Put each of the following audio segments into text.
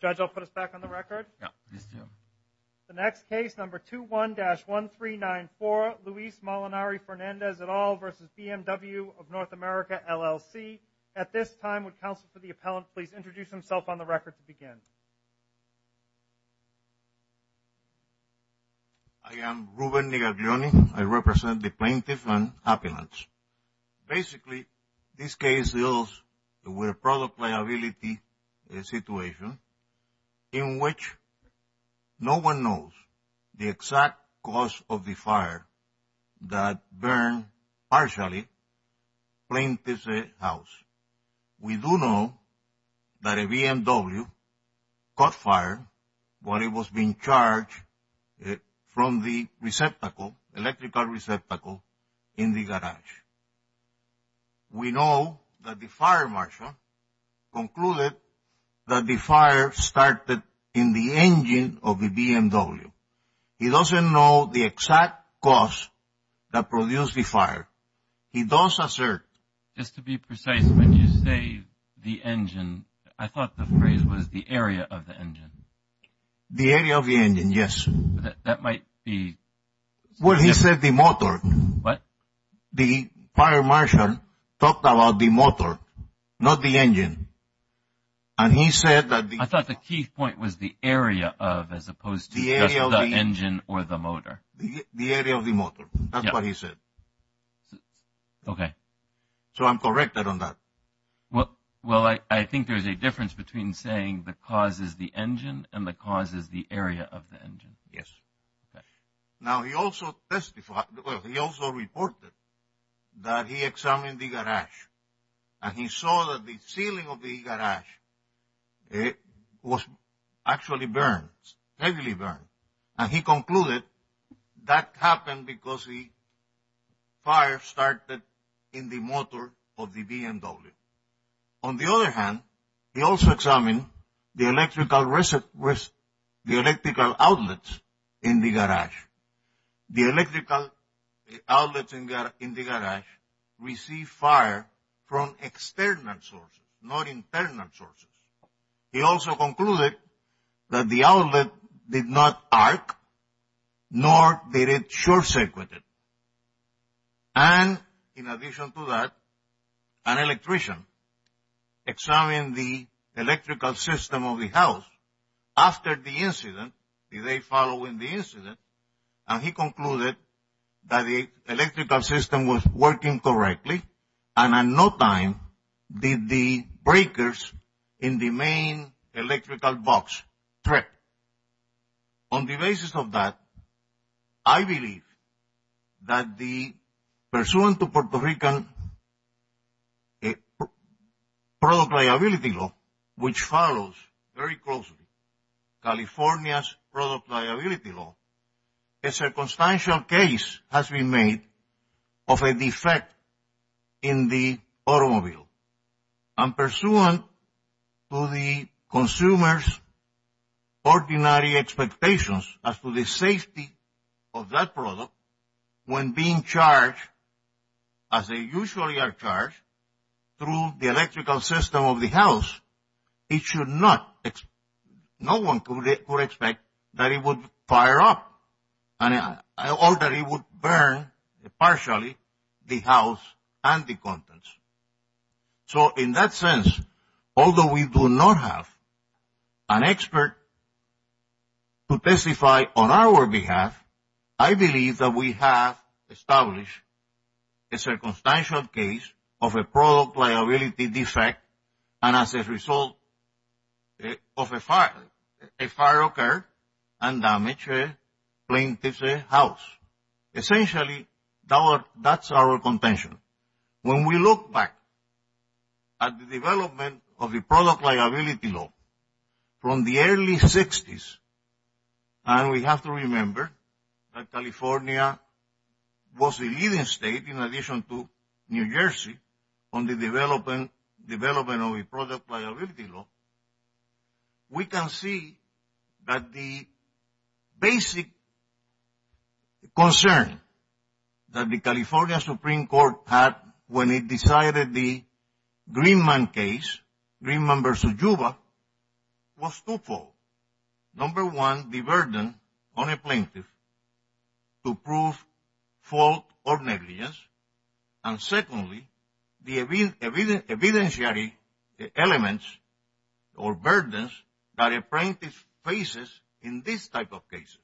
Judge, I'll put us back on the record. Yeah, please do. The next case, number 21-1394, Luis Molinari-Fernandez et al. versus BMW of North America, LLC. At this time, would counsel for the appellant please introduce himself on the record to begin? I am Ruben Negaglioni. I represent the plaintiff and appellants. Basically, this case deals with a product liability situation in which no one knows the exact cause of the fire that burned partially plaintiff's house. We do know that a BMW caught fire while it was being charged from the receptacle, electrical receptacle, in the garage. We know that the fire marshal concluded that the fire started in the engine of the BMW. He doesn't know the exact cause that produced the fire. He does assert... Just to be precise, when you say the engine, I thought the phrase was the area of the engine. The area of the engine, yes. That might be... Well, he said the motor. What? The fire marshal talked about the motor, not the engine. And he said that the... I thought the key point was the area of as opposed to just the engine or the motor. The area of the motor. That's what he said. Okay. So I'm corrected on that. Well, I think there's a difference between saying the cause is the engine and the cause is the area of the engine. Yes. Now, he also testified... Well, he also reported that he examined the garage. And he saw that the ceiling of the garage was actually burned, heavily burned. And he concluded that happened because the fire started in the motor of the BMW. On the other hand, he also examined the electrical outlet in the garage. The electrical outlets in the garage received fire from external sources, not internal sources. He also concluded that the outlet did not arc, nor did it short-circuit it. And in addition to that, an electrician examined the electrical system of the house. After the incident, the day following the incident, and he concluded that the electrical system was working correctly. And at no time did the breakers in the main electrical box trip. On the basis of that, I believe that the... Puerto Rican product liability law, which follows very closely California's product liability law, a circumstantial case has been made of a defect in the automobile. And pursuant to the consumer's ordinary expectations as to the safety of that product, when being charged as they usually are charged through the electrical system of the house, it should not... No one could expect that it would fire up or that it would burn partially the house and the contents. So in that sense, although we do not have an expert to testify on our behalf, I believe that we have established a circumstantial case of a product liability defect and as a result of a fire occurred and damaged a plaintiff's house. Essentially, that's our contention. When we look back at the development of the product liability law from the early 60s, and we have to remember that California was the leading state in addition to New Jersey on the development of a product liability law, we can see that the basic concern that the California Supreme Court had when it decided the Greenman case, Greenman v. Yuba, was twofold. Number one, the burden on a plaintiff to prove fault or negligence. And secondly, the evidentiary elements or burdens that a plaintiff faces in this type of cases.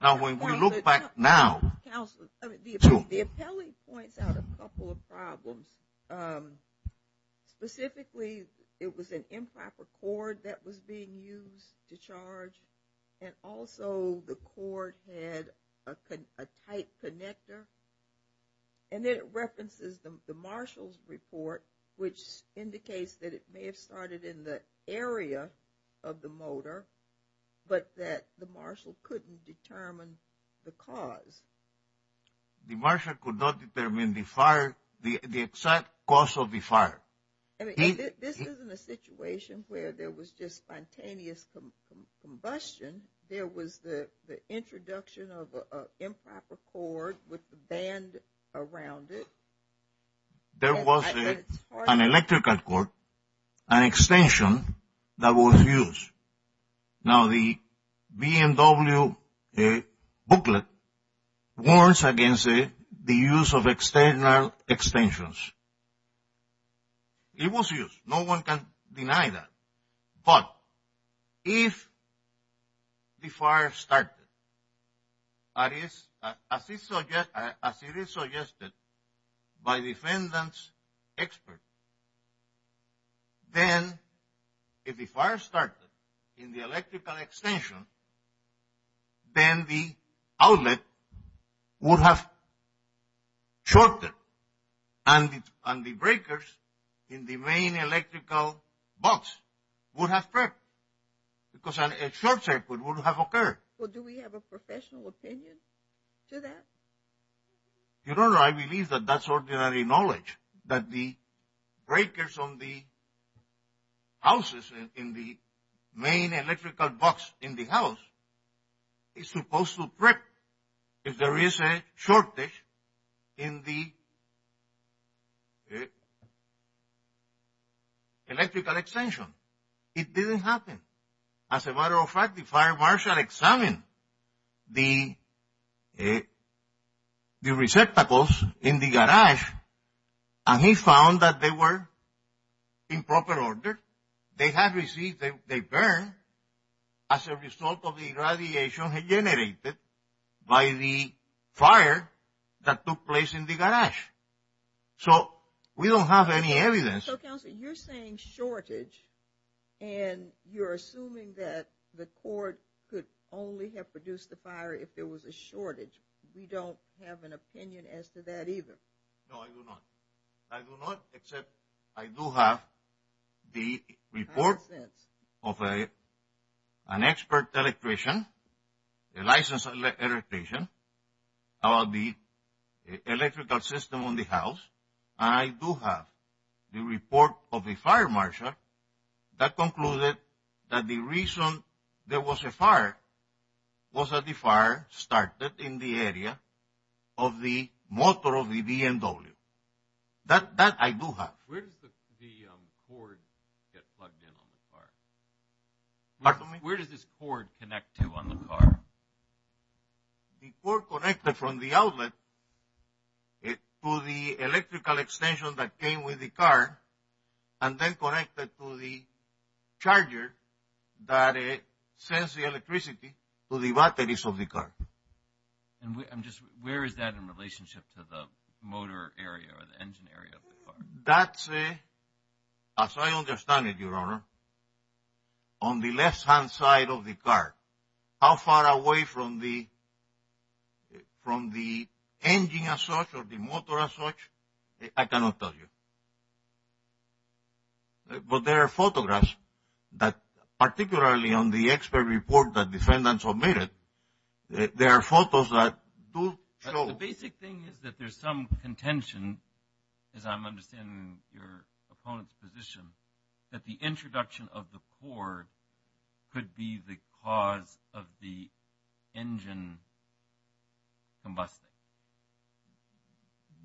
Now, when we look back now... Counsel, the appellee points out a couple of problems. Specifically, it was an improper cord that was being used to charge and also the cord had a tight connector. And it references the marshal's report, which indicates that it may have started in the area of the motor, but that the marshal couldn't determine the cause. The marshal could not determine the fire, the exact cause of the fire. This isn't a situation where there was just spontaneous combustion. There was the introduction of an improper cord with the band around it. There was an electrical cord, an extension that was used. Now, the BMW booklet warns against the use of external extensions. It was used. No one can deny that. But if the fire started, as it is suggested by defendant's experts, then if the fire started in the electrical extension, then the outlet would have shorted and the breakers in the main electrical box would have cracked because a short circuit would have occurred. Well, do we have a professional opinion to that? Your Honor, I believe that that's ordinary knowledge, that the breakers on the houses in the main electrical box in the house is supposed to crack if there is a shortage in the electrical extension. It didn't happen. As a matter of fact, the fire marshal examined the receptacles in the garage and he found that they were in proper order. They had received a burn as a result of the radiation generated by the fire that took place in the garage. So, we don't have any evidence. So, Counselor, you're saying shortage and you're assuming that the court could only have produced the fire if there was a shortage. We don't have an opinion as to that either. No, I do not. I do not, except I do have the report of an expert electrician, a licensed electrician, about the electrical system on the house. I do have the report of a fire marshal that concluded that the reason there was a fire was that the fire started in the area of the motor of the BMW. That I do have. Where does the cord get plugged in on the car? Pardon me? Where does this cord connect to on the car? The cord connected from the outlet to the electrical extension that came with the car and then connected to the charger that sends the electricity to the batteries of the car. And just where is that in relationship to the motor area or the engine area of the car? That's a, as I understand it, Your Honor, on the left-hand side of the car. How far away from the engine as such or the motor as such? I cannot tell you. But there are photographs that, particularly on the expert report that defendants submitted, there are photos that do show. The basic thing is that there's some contention, as I'm understanding your opponent's position, that the introduction of the cord could be the cause of the engine combusting.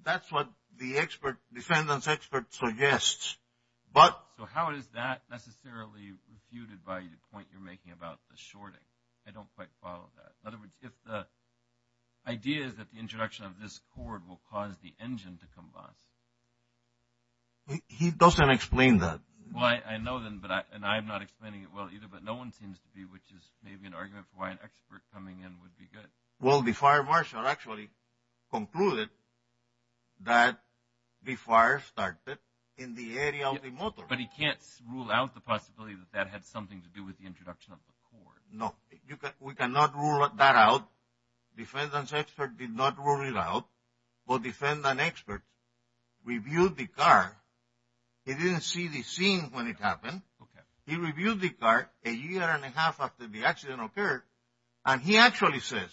That's what the expert, defendant's expert suggests. But. So how is that necessarily refuted by the point you're making about the shorting? I don't quite follow that. In other words, if the idea is that the introduction of this cord will cause the engine to combust. He doesn't explain that. Well, I know then, but I'm not explaining it well either, but no one seems to be, which is maybe an argument for why an expert coming in would be good. Well, the fire marshal actually concluded that the fire started in the area of the motor. But he can't rule out the possibility that that had something to do with the introduction of the cord. No, we cannot rule that out. Defendant's expert did not rule it out. But defendant's expert reviewed the car. He didn't see the scene when it happened. He reviewed the car a year and a half after the accident occurred. And he actually says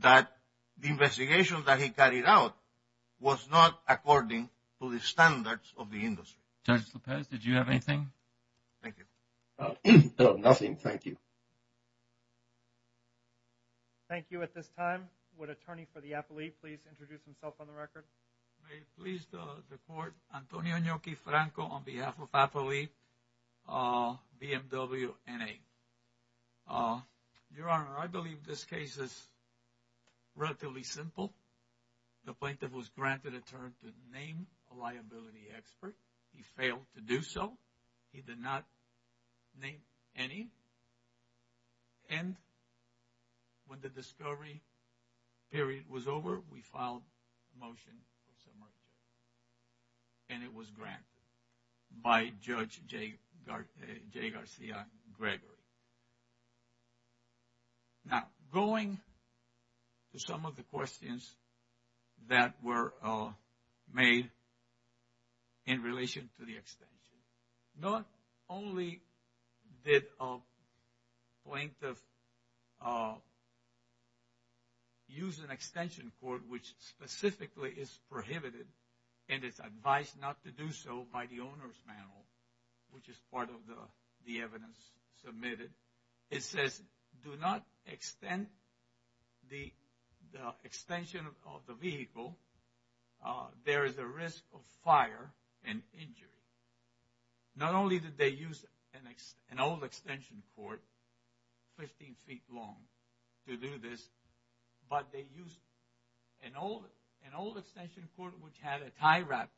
that the investigation that he carried out was not according to the standards of the industry. Judge Lopez, did you have anything? Thank you. No, nothing. Thank you. Thank you. At this time, would attorney for the appellee please introduce himself on the record? May it please the court, Antonio Inoki-Franco on behalf of appellee BMW NA. Your Honor, I believe this case is relatively simple. The plaintiff was granted a term to name a liability expert. He failed to do so. He did not name any. And when the discovery period was over, we filed a motion for submission. And it was granted by Judge Jay Garcia Gregory. Now, going to some of the questions that were made in relation to the extension. Not only did a plaintiff use an extension court which specifically is prohibited and is advised not to do so by the owner's panel, which is part of the evidence submitted. It says, do not extend the extension of the vehicle. There is a risk of fire and injury. Not only did they use an old extension court, 15 feet long, to do this, but they used an old extension court which had a tie wrapped,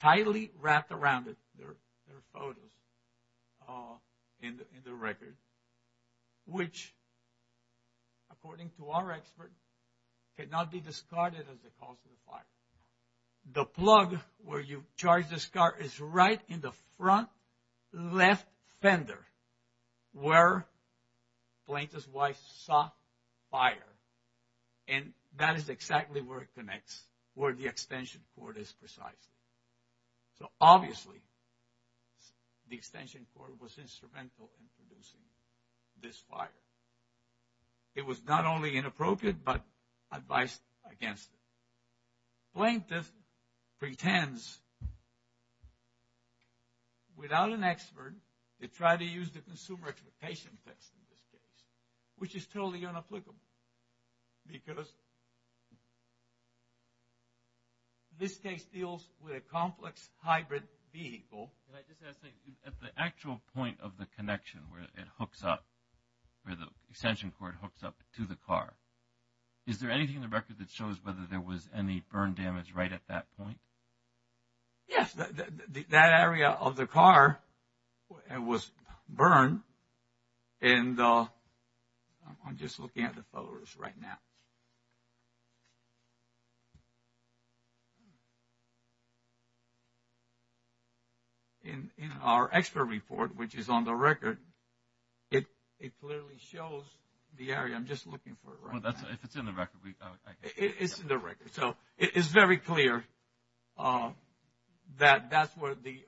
tightly wrapped around it. There are photos in the record, which, according to our expert, could not be discarded as the cause of the fire. The plug where you charge this car is right in the front left fender where the plaintiff's wife saw fire. And that is exactly where it connects, where the extension court is precisely. So, obviously, the extension court was instrumental in producing this fire. It was not only inappropriate, but advised against it. Plaintiff pretends, without an expert, to try to use the consumer expectation test in this case, which is totally inapplicable because this case deals with a complex hybrid vehicle. At the actual point of the connection where it hooks up, where the extension court hooks up to the car, is there anything in the record that shows whether there was any burn damage right at that point? Yes, that area of the car was burned. And I'm just looking at the photos right now. In our expert report, which is on the record, it clearly shows the area. I'm just looking for it right now. If it's in the record. It's in the record. So, it's very clear that that's where the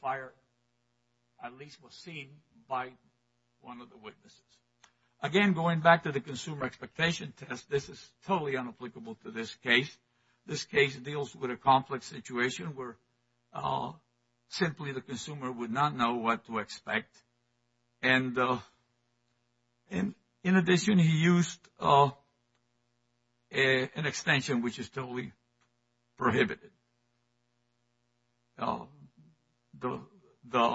fire at least was seen by one of the witnesses. Again, going back to the consumer expectation test, this is totally unapplicable to this case. This case deals with a complex situation where simply the consumer would not know what to expect. And in addition, he used an extension which is totally prohibited. The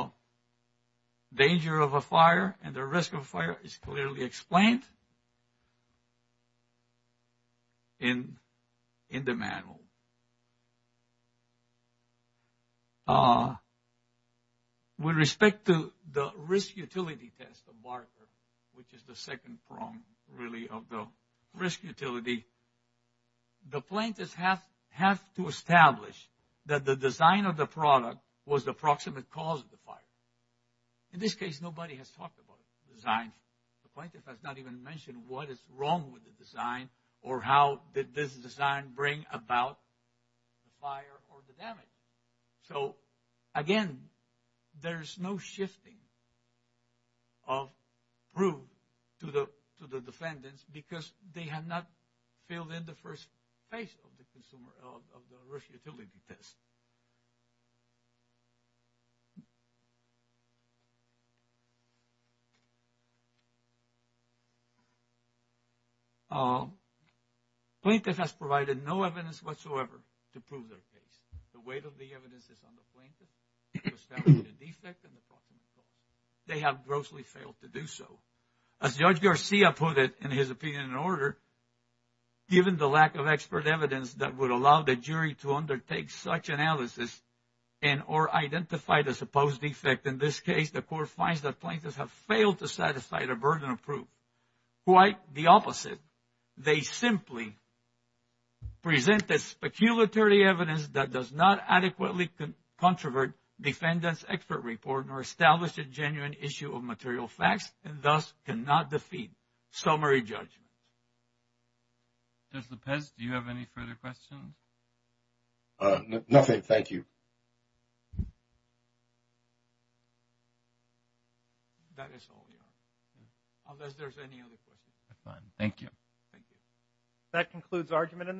danger of a fire and the risk of a fire is clearly explained in the manual. With respect to the risk utility test, which is the second prong really of the risk utility, the plaintiff has to establish that the design of the product was the proximate cause of the fire. In this case, nobody has talked about the design. The plaintiff has not even mentioned what is wrong with the design or how did this design bring about the fire or the damage. So, again, there's no shifting of proof to the defendants because they have not filled in the first phase of the risk utility test. Plaintiff has provided no evidence whatsoever to prove their case. The weight of the evidence is on the plaintiff to establish the defect and the proximate cause. They have grossly failed to do so. As Judge Garcia put it in his opinion and order, given the lack of expert evidence that would allow the jury to undertake such analysis and or identify the supposed defect in this case, the court finds that plaintiffs have failed to satisfy the burden of proof. Quite the opposite. They simply present the speculatory evidence that does not adequately controvert defendant's expert report nor establish a genuine issue of material facts and thus cannot defeat summary judgment. Judge Lopez, do you have any further questions? Nothing. Thank you. That is all, Your Honor, unless there's any other questions. Fine. Thank you. Thank you. That concludes argument in this case.